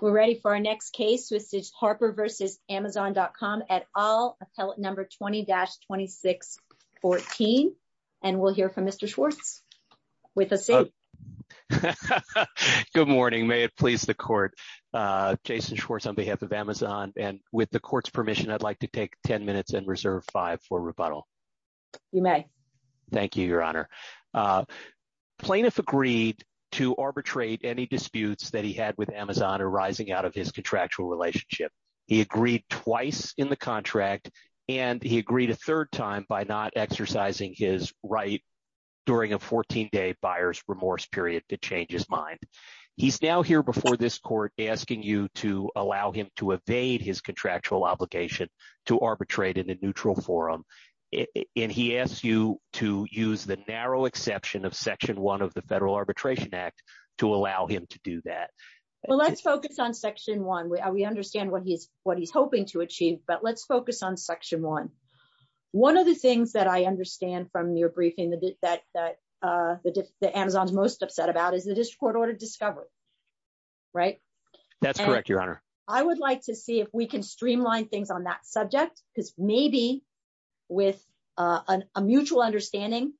We're ready for our next case. This is Harper v. Amazon.com et al, appellate number 20-2614. And we'll hear from Mr. Schwartz. Good morning. May it please the court. Jason Schwartz on behalf of Amazon. And with the court's permission, I'd like to take 10 minutes and reserve five for rebuttal. You may. Thank you, Your Honor. Uh, plaintiff agreed to arbitrate any disputes that he had with Amazon arising out of his contractual relationship. He agreed twice in the contract, and he agreed a third time by not exercising his right during a 14-day buyer's remorse period to change his mind. He's now here before this court asking you to allow him to evade his contractual obligation to arbitrate in a Section 1 of the Federal Arbitration Act to allow him to do that. Well, let's focus on Section 1. We understand what he's hoping to achieve. But let's focus on Section 1. One of the things that I understand from your briefing that Amazon's most upset about is the District Court-ordered discovery, right? That's correct, Your Honor. I would like to see if we can streamline things on that subject, because maybe with a mutual understanding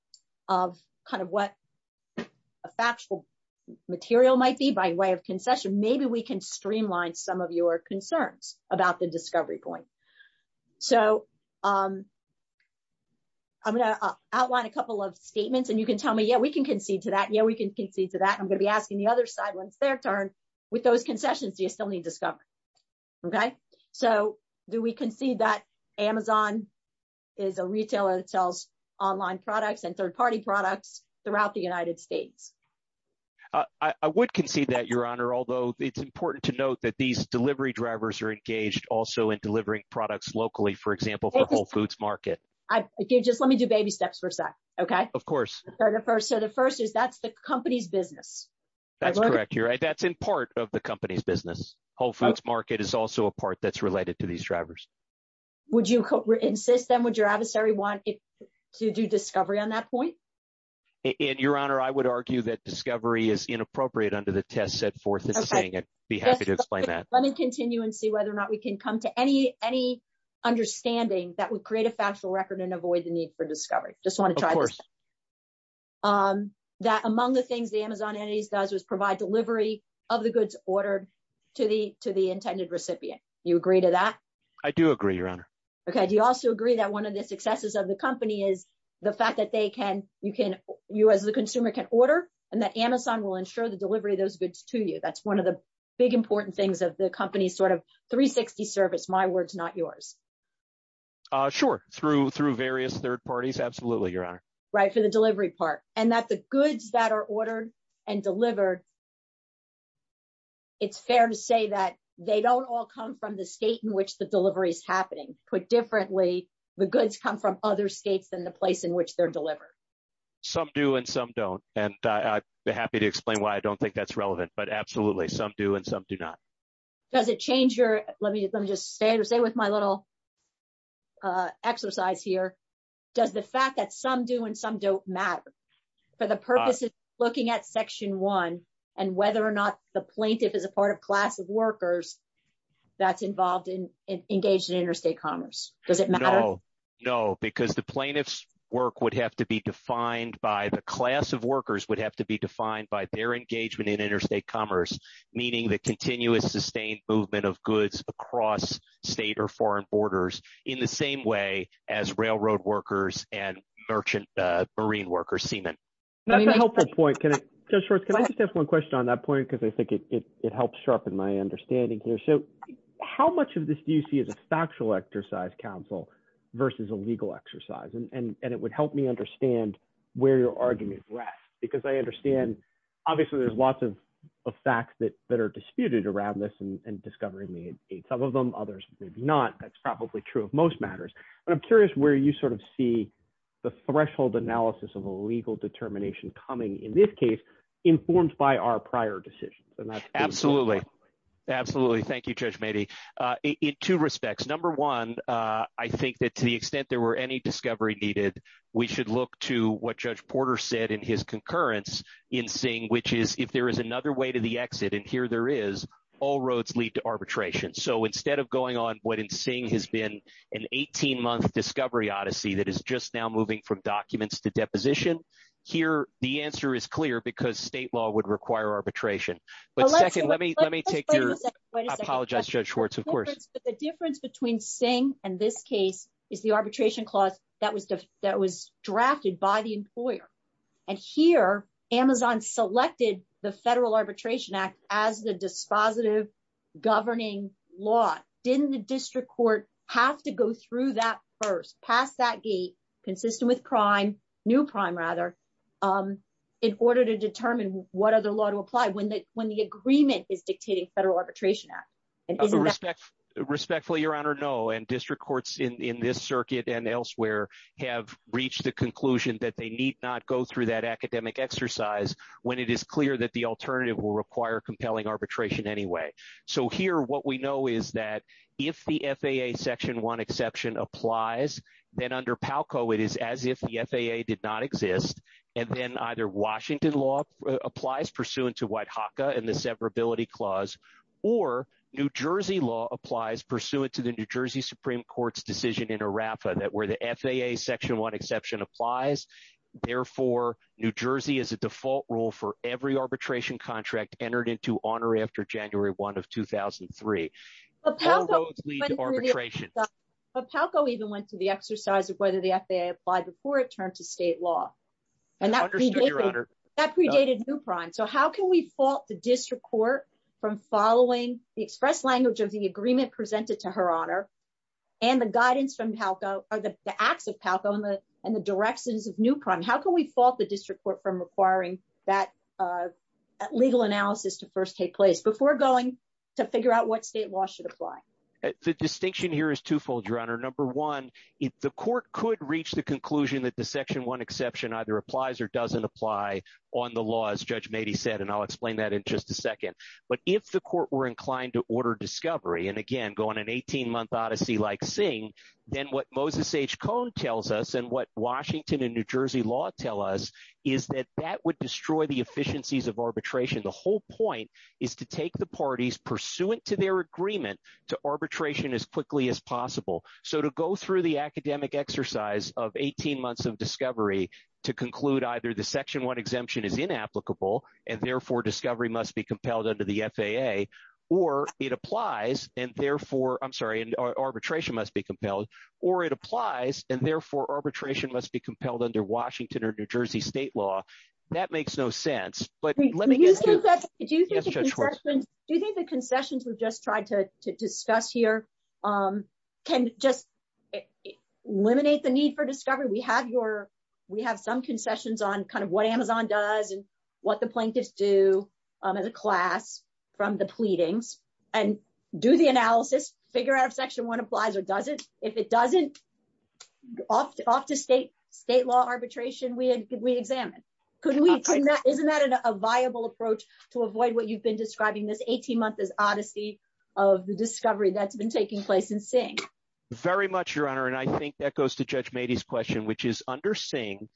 of kind of what a factual material might be by way of concession, maybe we can streamline some of your concerns about the discovery point. So I'm going to outline a couple of statements, and you can tell me, yeah, we can concede to that. Yeah, we can concede to that. I'm going to be asking the other side when it's their turn, with those concessions, do you still need discovery? Okay? So do we concede that Amazon is a retailer that sells online products and third-party products throughout the United States? I would concede that, Your Honor, although it's important to note that these delivery drivers are engaged also in delivering products locally, for example, for Whole Foods Market. Just let me do baby steps for a sec, okay? Of course. So the first is that's the company's business. That's correct, Your Honor. That's in part of the company's business. Whole Foods Market is also a part that's related to these drivers. Would you insist, then, would your adversary want to do discovery on that point? And, Your Honor, I would argue that discovery is inappropriate under the test set forth in the saying. I'd be happy to explain that. Let me continue and see whether or not we can come to any understanding that would create a factual record and avoid the need for discovery. Just want to try this. Of course. That among the things the Amazon entities does is provide delivery of the goods ordered to the consumer. I do agree, Your Honor. Okay. Do you also agree that one of the successes of the company is the fact that you as the consumer can order and that Amazon will ensure the delivery of those goods to you? That's one of the big important things of the company's sort of 360 service, my words, not yours. Sure. Through various third parties, absolutely, Your Honor. Right, for the delivery part. And that the goods that are ordered and delivered, it's fair to say that they don't all come from the state in which the delivery is happening. Put differently, the goods come from other states than the place in which they're delivered. Some do and some don't. And I'd be happy to explain why I don't think that's relevant, but absolutely, some do and some do not. Does it change your, let me just stay with my little exercise here. Does the fact that some and some don't matter for the purpose of looking at section one and whether or not the plaintiff is a part of class of workers that's involved in engaged in interstate commerce? Does it matter? No, no, because the plaintiff's work would have to be defined by the class of workers would have to be defined by their engagement in interstate commerce, meaning the continuous sustained movement of goods across state or foreign borders in the same way as railroad workers and marine workers, seamen. That's a helpful point. Judge Schwartz, can I just ask one question on that point? Because I think it helps sharpen my understanding here. So how much of this do you see as a factual exercise counsel versus a legal exercise? And it would help me understand where your argument rests, because I understand, obviously, there's lots of facts that are disputed around this and discovering some of them, others, maybe not. That's probably true of most matters. But I'm curious where you sort of see the threshold analysis of a legal determination coming in this case, informed by our prior decisions. Absolutely. Absolutely. Thank you, Judge Meadey. In two respects. Number one, I think that to the extent there were any discovery needed, we should look to what Judge Porter said in his concurrence in Singh, which is if there is another way to the exit, and here there is, all roads lead to arbitration. So instead of going on what in Singh has been an 18-month discovery odyssey that is just now moving from documents to deposition, here the answer is clear because state law would require arbitration. But second, let me take your... I apologize, Judge Schwartz, of course. But the difference between Singh and this case is the arbitration clause that was drafted by the employer. And here, Amazon selected the Federal Arbitration Act as the dispositive governing law. Didn't the district court have to go through that first, pass that gate, consistent with prime, new prime rather, in order to determine what other law to apply when the agreement is dictating Federal Arbitration Act? Respectfully, Your Honor, no. And district courts in this circuit and elsewhere have reached the conclusion that they need not go through that anyway. So here, what we know is that if the FAA section 1 exception applies, then under Palco, it is as if the FAA did not exist. And then either Washington law applies pursuant to White HACA and the severability clause, or New Jersey law applies pursuant to the New Jersey Supreme Court's decision in ARAFA that where the FAA section 1 exception applies, therefore, New Jersey is a default rule for every arbitration contract entered into honor after January 1 of 2003. But Palco even went to the exercise of whether the FAA applied before it turned to state law. And that predated new prime. So how can we fault the district court from following the express language of the agreement presented to her honor, and the guidance from Palco, or the acts of Palco and the directions of new prime? How can we fault the district court from requiring that legal analysis to first take place before going to figure out what state law should apply? The distinction here is twofold, Your Honor. Number one, the court could reach the conclusion that the section 1 exception either applies or doesn't apply on the laws, Judge Mady said, and I'll explain that in just a second. But if the court were inclined to order discovery, and again, go on an 18-month odyssey like Singh, then what Moses H. Cohn tells us, and what Washington and New Jersey law tell us, is that that would destroy the efficiencies of arbitration. The whole point is to take the parties pursuant to their agreement to arbitration as quickly as possible. So to go through the academic exercise of 18 months of discovery to conclude either the section 1 exemption is inapplicable, and therefore, discovery must be compelled under the FAA, or it applies, and therefore, I'm sorry, arbitration must be compelled, or it applies, and therefore, arbitration must be compelled under Washington or New Jersey state law. That makes no sense. But let me get to- Do you think the concessions we've just tried to discuss here can just eliminate the need for discovery? We have some concessions on kind of what Amazon does and what the plaintiffs do as a class from the pleadings, and do the analysis, figure out if section 1 applies or doesn't. If it doesn't, off to state law arbitration, we examine. Couldn't we- Isn't that a viable approach to avoid what you've been describing this 18-month odyssey of the discovery that's been taking place in Singh? Very much, Your Honor, and I think that goes to Judge Mady's question, which is under Singh,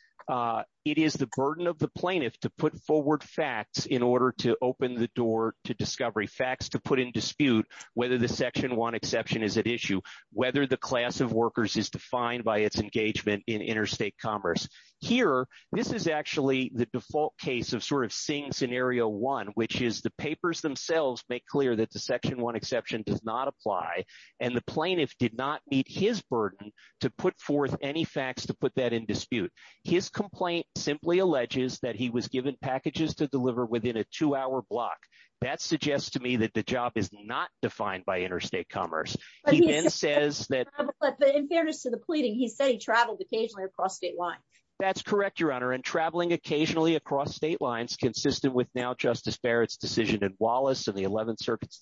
it is the burden of the plaintiff to put forward facts in order to open the door to discovery, facts to put in dispute whether the section 1 exception is at issue, whether the class of workers is defined by its engagement in interstate commerce. Here, this is actually the default case of sort of Singh scenario 1, which is the papers themselves make clear that the section 1 exception does not apply, and the plaintiff did not meet his burden to put forth any facts to put that in dispute. His complaint simply alleges that he was given packages to deliver within a two-hour block. That suggests to me that the job is not defined by interstate commerce. He then says that- But in fairness to the pleading, he said he traveled occasionally across state lines. That's correct, Your Honor, and traveling occasionally across state lines consistent with now Justice Barrett's decision in Wallace and the 11th Circuit's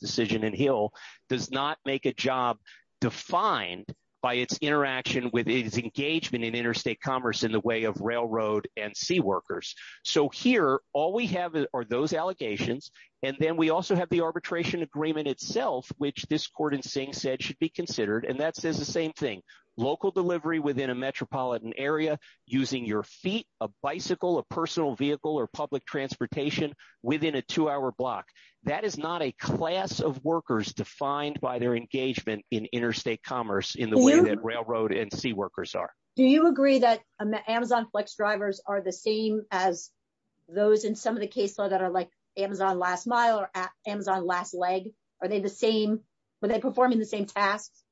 does not make a job defined by its interaction with its engagement in interstate commerce in the way of railroad and sea workers. So here, all we have are those allegations, and then we also have the arbitration agreement itself, which this court in Singh said should be considered, and that says the same thing. Local delivery within a metropolitan area using your feet, a bicycle, a personal vehicle, or public transportation within a two-hour block. That is not a class of workers defined by their engagement in interstate commerce in the way that railroad and sea workers are. Do you agree that Amazon Flex drivers are the same as those in some of the cases that are like Amazon Last Mile or Amazon Last Leg? Are they the same when they're performing the same tasks?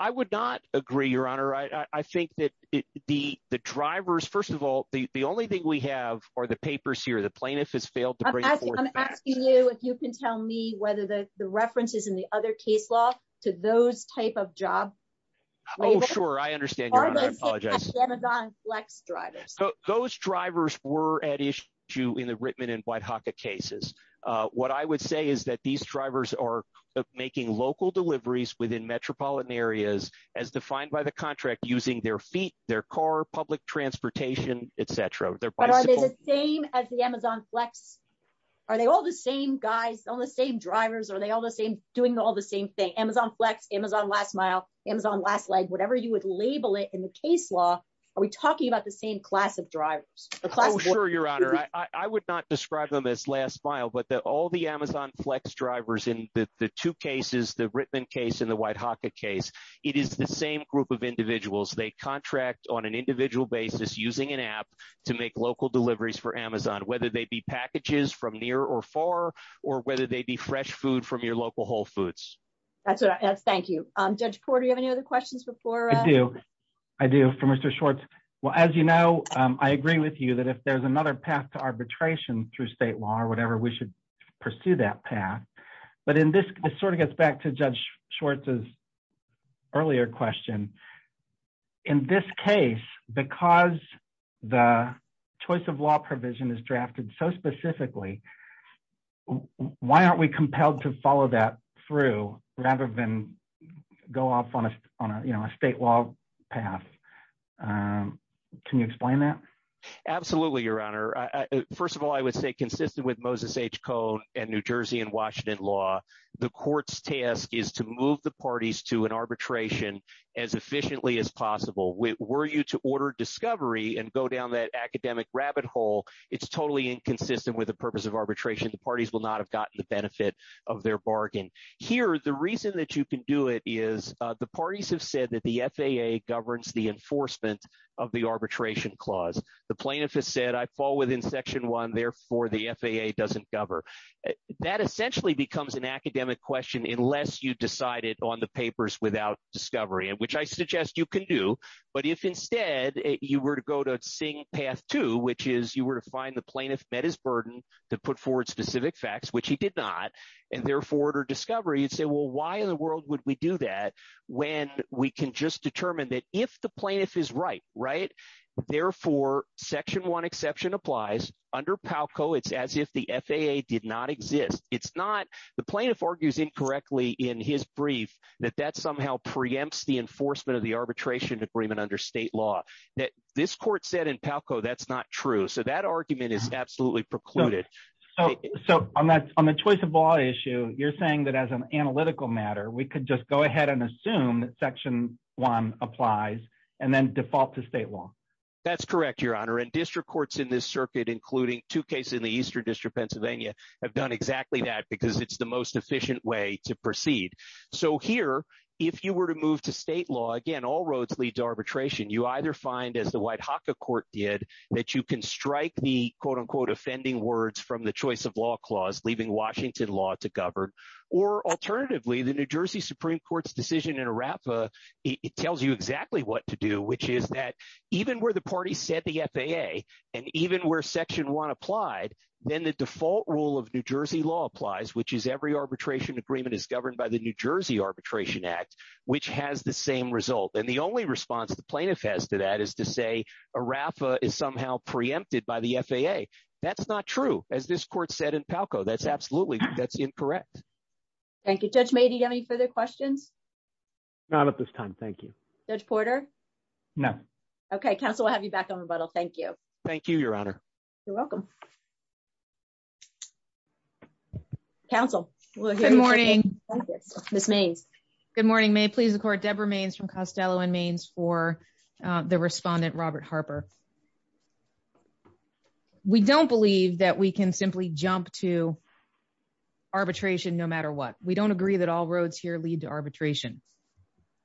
I would not agree, Your Honor. I think that the drivers, first of all, the only thing we have are the papers here. The plaintiff has failed to bring it forward. I'm asking you if you can tell me whether the references in the other case law to those type of job labels are the same as Amazon Flex drivers. Those drivers were at issue in the Rittman and Whitehawka cases. What I would say is that these drivers are making local deliveries within metropolitan areas as defined by the contract using their feet, their car, public transportation, et cetera. But are they the same as the Amazon Flex? Are they all the same guys, all the same drivers? Are they all the same doing all the same thing? Amazon Flex, Amazon Last Mile, Amazon Last Leg, whatever you would label it in the case law, are we talking about the same class of drivers? Oh, sure, Your Honor. I would not describe them as Last Mile, but all the Amazon Flex drivers in the two cases, the Rittman case and the Whitehawka case, it is the same group of using an app to make local deliveries for Amazon, whether they be packages from near or far or whether they be fresh food from your local Whole Foods. Thank you. Judge Porter, you have any other questions before? I do. I do for Mr. Schwartz. Well, as you know, I agree with you that if there's another path to arbitration through state law or whatever, we should pursue that path. But in this, it sort of gets back to Judge Schwartz's earlier question. In this case, because the choice of law provision is drafted so specifically, why aren't we compelled to follow that through rather than go off on a state law path? Can you explain that? Absolutely, Your Honor. First of all, I would say consistent with Moses H. as efficiently as possible. Were you to order discovery and go down that academic rabbit hole, it's totally inconsistent with the purpose of arbitration. The parties will not have gotten the benefit of their bargain. Here, the reason that you can do it is the parties have said that the FAA governs the enforcement of the arbitration clause. The plaintiff has said, I fall within Section 1, therefore, the FAA doesn't govern. That essentially becomes an academic question unless you decide it on the papers without discovery, which I suggest you can do. But if instead you were to go to Singh Path 2, which is you were to find the plaintiff met his burden to put forward specific facts, which he did not, and therefore order discovery, you'd say, well, why in the world would we do that when we can just determine that if the plaintiff is right, right, therefore, Section 1 exception applies. Under PALCO, it's as if the FAA did not exist. The plaintiff argues incorrectly in his brief that that somehow preempts the enforcement of the arbitration agreement under state law. This court said in PALCO that's not true. So that argument is absolutely precluded. So on the choice of law issue, you're saying that as an analytical matter, we could just go ahead and assume that Section 1 applies and then default to state law. That's correct, Your Honor. And district courts in this circuit, including two Pennsylvania, have done exactly that because it's the most efficient way to proceed. So here, if you were to move to state law, again, all roads lead to arbitration. You either find, as the Whitehawka Court did, that you can strike the, quote, unquote, offending words from the choice of law clause, leaving Washington law to govern. Or alternatively, the New Jersey Supreme Court's decision in ARAPA, it tells you exactly what to do, which is that even where the default rule of New Jersey law applies, which is every arbitration agreement is governed by the New Jersey Arbitration Act, which has the same result. And the only response the plaintiff has to that is to say ARAPA is somehow preempted by the FAA. That's not true, as this court said in PALCO. That's absolutely incorrect. Thank you. Judge May, do you have any further questions? Not at this time. Thank you. Judge Porter? No. Okay. Counsel, I'll have you back on rebuttal. Thank you. Thank you, Your Honor. You're welcome. Counsel? Good morning. Ms. Mayes. Good morning. May it please the Court, Deborah Mayes from Costello and Maynes for the respondent, Robert Harper. We don't believe that we can simply jump to arbitration no matter what. We don't agree that all roads here lead to arbitration.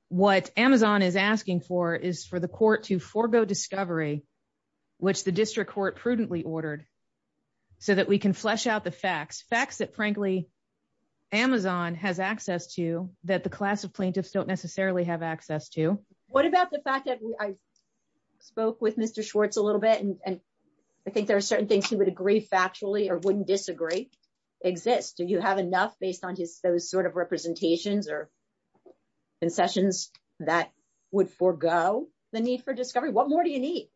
What Amazon is asking for is for the court to forego discovery, which the district court prudently ordered, so that we can flesh out the facts, facts that, frankly, Amazon has access to that the class of plaintiffs don't necessarily have access to. What about the fact that I spoke with Mr. Schwartz a little bit, and I think there are certain things he would agree factually or wouldn't disagree exist. Do you have enough based on those sort of representations or that would forego the need for discovery? What more do you need?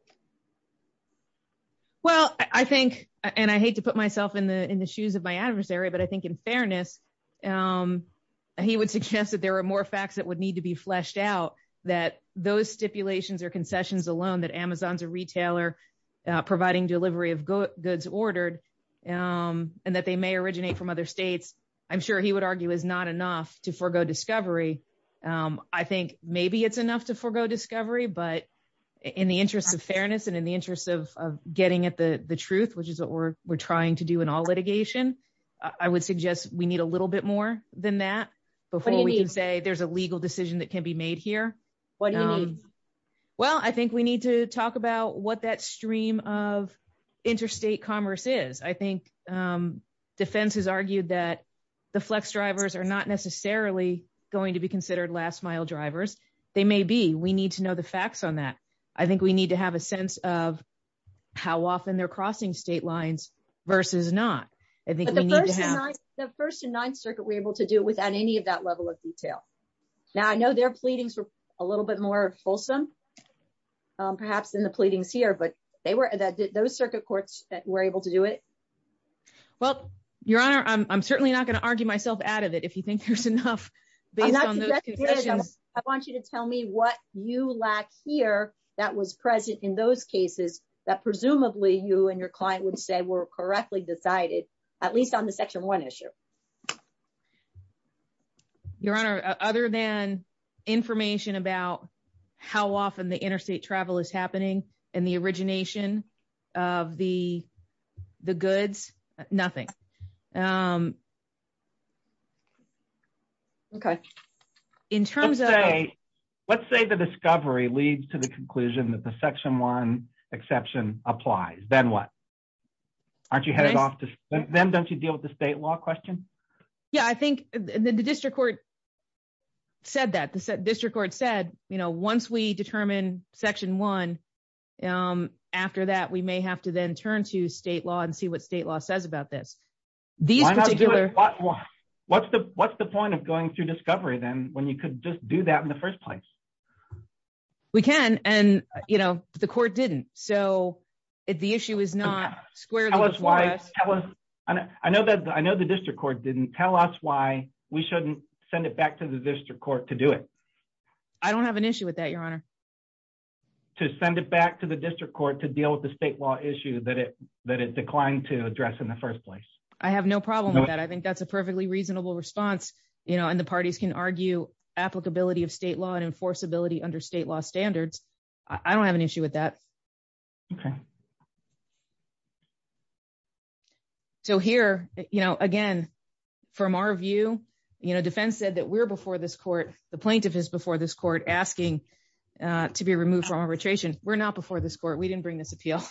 Well, I think, and I hate to put myself in the shoes of my adversary, but I think in fairness, he would suggest that there are more facts that would need to be fleshed out, that those stipulations or concessions alone that Amazon's a retailer providing delivery of goods ordered and that they may originate from other states, I'm sure he would argue is not enough to forego discovery. I think maybe it's enough to forego discovery, but in the interest of fairness and in the interest of getting at the truth, which is what we're trying to do in all litigation, I would suggest we need a little bit more than that before we can say there's a legal decision that can be made here. What do you mean? Well, I think we need to talk about what that stream of interstate commerce is. I think defense has argued that the flex drivers are not necessarily going to be considered last mile drivers. They may be. We need to know the facts on that. I think we need to have a sense of how often they're crossing state lines versus not. I think we need to have- The First and Ninth Circuit were able to do it without any of that level of detail. Now, I know their pleadings were a little bit more fulsome, perhaps than the pleadings here, but those circuit courts were able to do it. Well, Your Honor, I'm certainly not going to argue myself out of it if you think there's enough based on those two sessions. I want you to tell me what you lack here that was present in those cases that presumably you and your client would say were correctly decided, at least on the Section 1 issue. Your Honor, other than information about how often the interstate travel is happening and the origination of the goods, nothing. In terms of- Let's say the discovery leads to the conclusion that the Section 1 exception applies. Then what? Aren't you headed off to- Then don't you deal with the state law question? Yeah, I think the district court said that. The district court said, once we determine Section 1, after that, we may have to then turn to state law and see what state law says about this. These particular- What's the point of going through discovery then when you could just do that in the first place? We can, and the court didn't. The issue is not squarely before us. I know the district court didn't. Tell us why we shouldn't send it back to the district court to do it. I don't have an issue with that, Your Honor. To send it back to the district court to deal with the state law issue that it declined to address in the first place. I have no problem with that. I think that's a perfectly reasonable response, and the parties can argue applicability of state law and enforceability under state law standards. I don't have an issue with that. So here, again, from our view, defense said that we're before this court. The plaintiff is before this court asking to be removed from arbitration. We're not before this court. We didn't bring this appeal.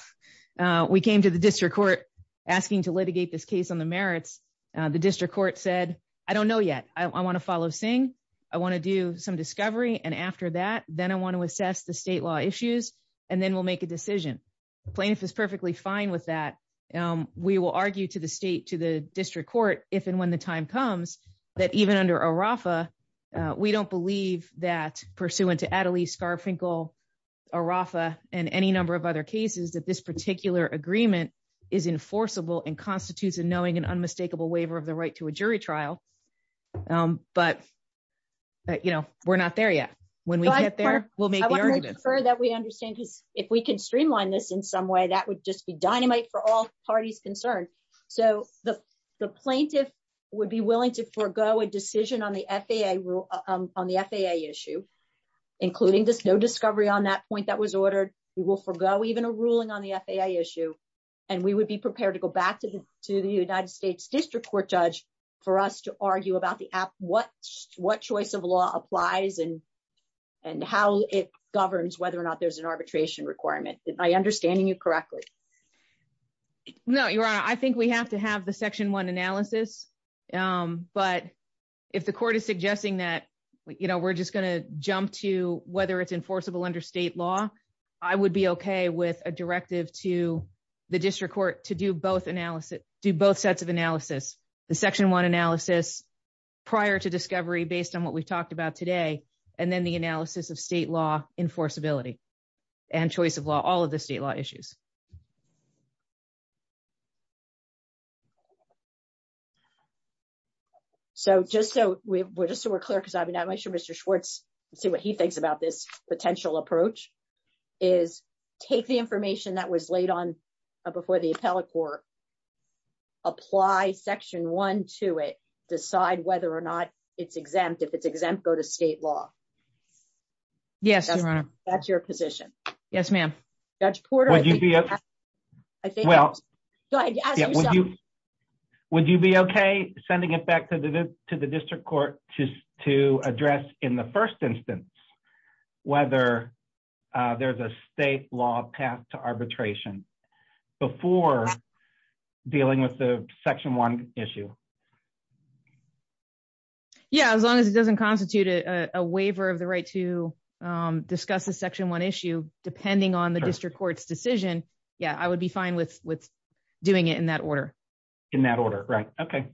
We came to the district court asking to litigate this case on the merits. The district court said, I don't know yet. I want to follow Singh. I want to do some discovery, and after that, then I want to assess the state law issues, and then we'll make a decision. The plaintiff is perfectly fine with that. We will argue to the state, to the district court, if and when the time comes, that even under ARAFA, we don't believe that, pursuant to Adelie Scarfinkel, ARAFA, and any number of other cases, that this particular agreement is enforceable and constitutes a knowing and unmistakable waiver of the right to a jury trial, but we're not there yet. When we get there, we'll make the argument. I want to make sure that we understand, because if we can streamline this in some way, that would just be dynamite for all parties concerned. So the plaintiff would be willing to forego a decision on the FAA issue, including just no discovery on that point that was ordered. We will forego even a ruling on the FAA issue, and we would be prepared to go back to the United States district court judge for us to argue about what choice of law applies and how it governs whether or not there's an arbitration requirement. Am I understanding you correctly? No, Your Honor. I think we have to have the section one analysis, but if the court is suggesting that we're just going to jump to whether it's enforceable under state law, I would be okay with a directive to the district court to do both sets of analysis, the section one analysis prior to discovery based on what we've talked about today, and then the analysis of state law enforceability and choice of law, all of the state law issues. So just so we're clear, because I'm not quite sure Mr. Schwartz, see what he thinks about this potential approach, is take the information that was laid on before the appellate court, apply section one to it, decide whether or not it's exempt. If it's exempt, go to state law. Yes, Your Honor. That's your position. Yes, ma'am. Judge Porter, I think, well, would you be okay sending it back to the district court to address in the first instance whether there's a state law path to arbitration before dealing with the section one issue? Yeah, as long as it doesn't constitute a waiver of the right to discuss the section one issue, depending on the district court's decision, yeah, I would be fine with doing it in that order. In that order, right. Okay.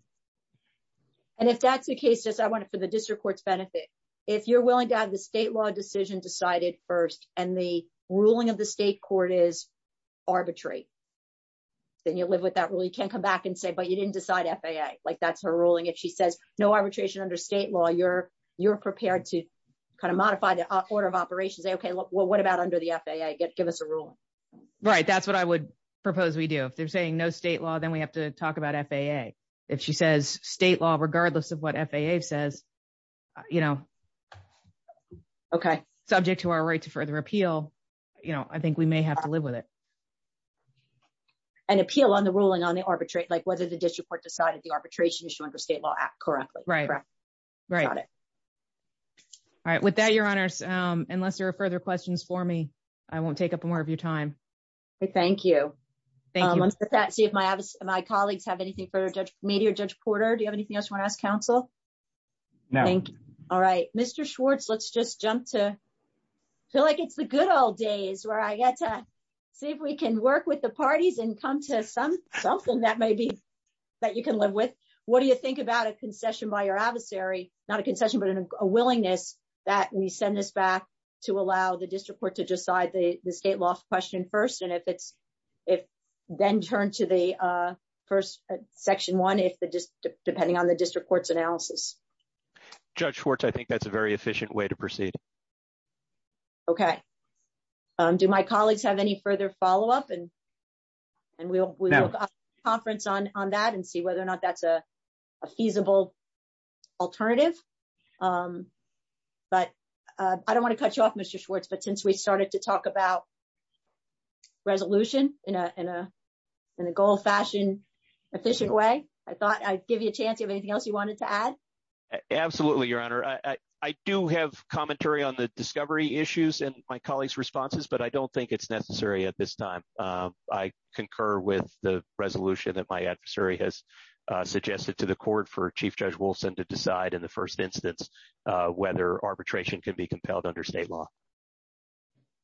And if that's the case, just I want it for the district court's benefit. If you're willing to have the state law decision decided first and the ruling of the state court is arbitrary, then you live with that rule. You can't come back and say, but you didn't decide FAA, like that's her ruling. If she says no arbitration under state law, you're prepared to kind of modify the order of operations. Okay, well, what about under the FAA? Give us a ruling. Right, that's what I would propose we do. If they're saying no state law, then we have to talk about FAA. If she says state law, regardless of what FAA says, subject to our right to further appeal, I think we may have to live with it. And appeal on the ruling on the arbitrate, like whether the district court decided the arbitration issue under state law app correctly. Right, right. All right. With that, your honors, unless there are further questions for me, I won't take up more of your time. Thank you. Thank you. Let's see if my colleagues have anything further to me or Judge Porter. Do you have anything else you want to ask counsel? No. Thank you. All right. Mr. Schwartz, let's just jump to, I feel like it's the good old days where I get to see if we can work with the parties and come to something that maybe that you can live with. What do you think about a concession by your adversary? Not a concession, but a willingness that we send this back to allow the district court to decide the state law question first, and then turn to the first section one, depending on the district court's analysis. Judge Schwartz, I think that's a very efficient way to proceed. Okay. Do my colleagues have any further follow-up? And we'll have a conference on that and see whether or not that's a feasible alternative. But I don't want to cut you off, Mr. Schwartz, but since we started to talk about resolution in a gold-fashioned, efficient way, I thought I'd give you a chance. Do you have anything else you wanted to add? Absolutely, Your Honor. I do have commentary on the discovery issues and my colleagues' responses, but I don't think it's necessary at this time. I concur with the resolution that my adversary has suggested to the court for Chief Judge Wilson to decide in the first instance whether arbitration could be compelled under state law.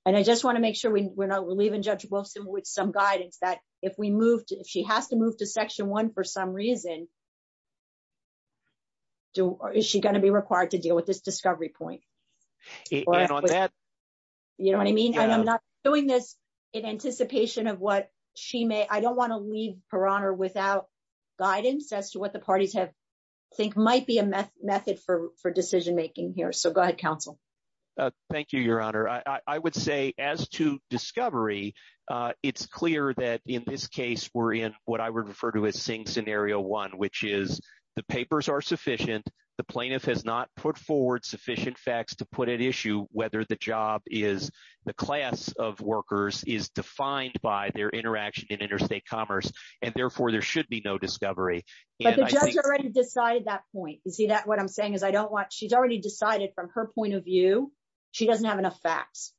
And I just want to make sure we're not leaving Judge Wilson with some guidance that if she has to move to section one for some reason, is she going to be required to deal with this discovery point? You know what I mean? And I'm not doing this in anticipation of what she may... I don't want to without guidance as to what the parties think might be a method for decision-making here. So go ahead, counsel. Thank you, Your Honor. I would say as to discovery, it's clear that in this case, we're in what I would refer to as Sing Scenario 1, which is the papers are sufficient. The plaintiff has not put forward sufficient facts to put at issue whether the job is... the class of workers is defined by their interaction in interstate commerce, and therefore there should be no discovery. But the judge already decided that point. You see that what I'm saying is I don't want... she's already decided from her point of view, she doesn't have enough facts.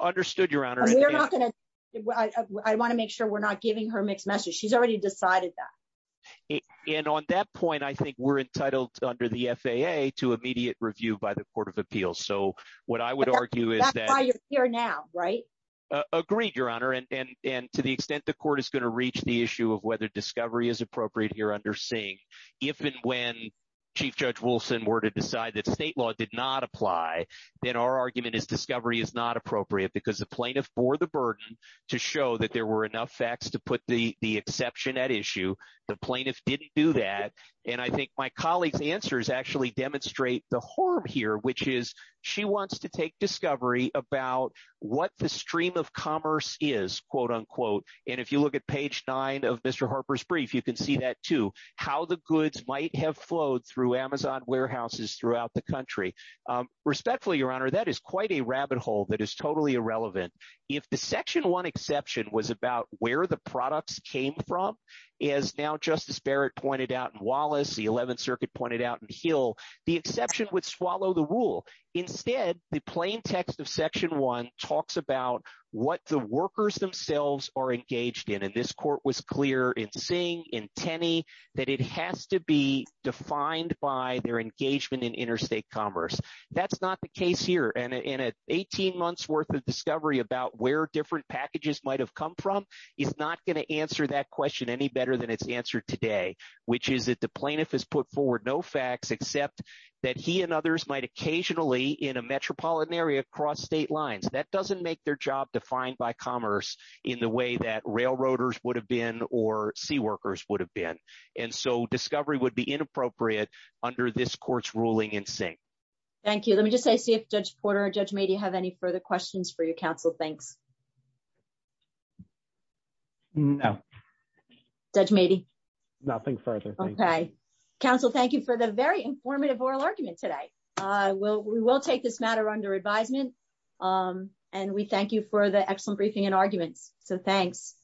Understood, Your Honor. I want to make sure we're not giving her mixed message. She's already decided that. And on that point, I think we're entitled under the FAA to immediate review by the Court of Appeals. So what I would argue is that... That's why you're here now, right? Agreed, Your Honor. And to the extent the court is going to reach the issue of whether discovery is appropriate here under Sing, if and when Chief Judge Wilson were to decide that state law did not apply, then our argument is discovery is not appropriate because the plaintiff bore the burden to show that there were enough facts to put the exception at issue. The plaintiff didn't do that. And I think my colleague's answers actually demonstrate the harm here, which is she wants to take discovery about what the stream of commerce is, quote-unquote. And if you look at page nine of Mr. Harper's brief, you can see that too, how the goods might have flowed through Amazon warehouses throughout the country. Respectfully, Your Honor, that is quite a rabbit hole that is totally irrelevant. If the Section 1 exception was about where the products came from, as now Justice Barrett pointed out in Wallace, the 11th Circuit pointed out in Hill, the exception would swallow the rule. Instead, the plain text of Section 1 talks about what the workers themselves are engaged in. And this court was clear in Sing, in Tenney, that it has to be defined by their engagement in interstate commerce. That's not the case here. And an 18 months' worth of discovery about where different packages might have come from is not going to answer that question any better than it's answered today, which is that the plaintiff has put forward no facts except that he and others might occasionally in a metropolitan area cross state lines. That doesn't make their job defined by commerce in the way that railroaders would have been or seaworkers would have been. And so discovery would be inappropriate under this court's ruling in Sing. Thank you. Let me just see if Judge Porter or Judge Meadey have any further questions for your counsel. Thanks. No. Judge Meadey. Nothing further. Okay. Counsel, thank you for the very informative oral argument today. We will take this matter under advisement. And we thank you for the excellent briefing and arguments. So thanks.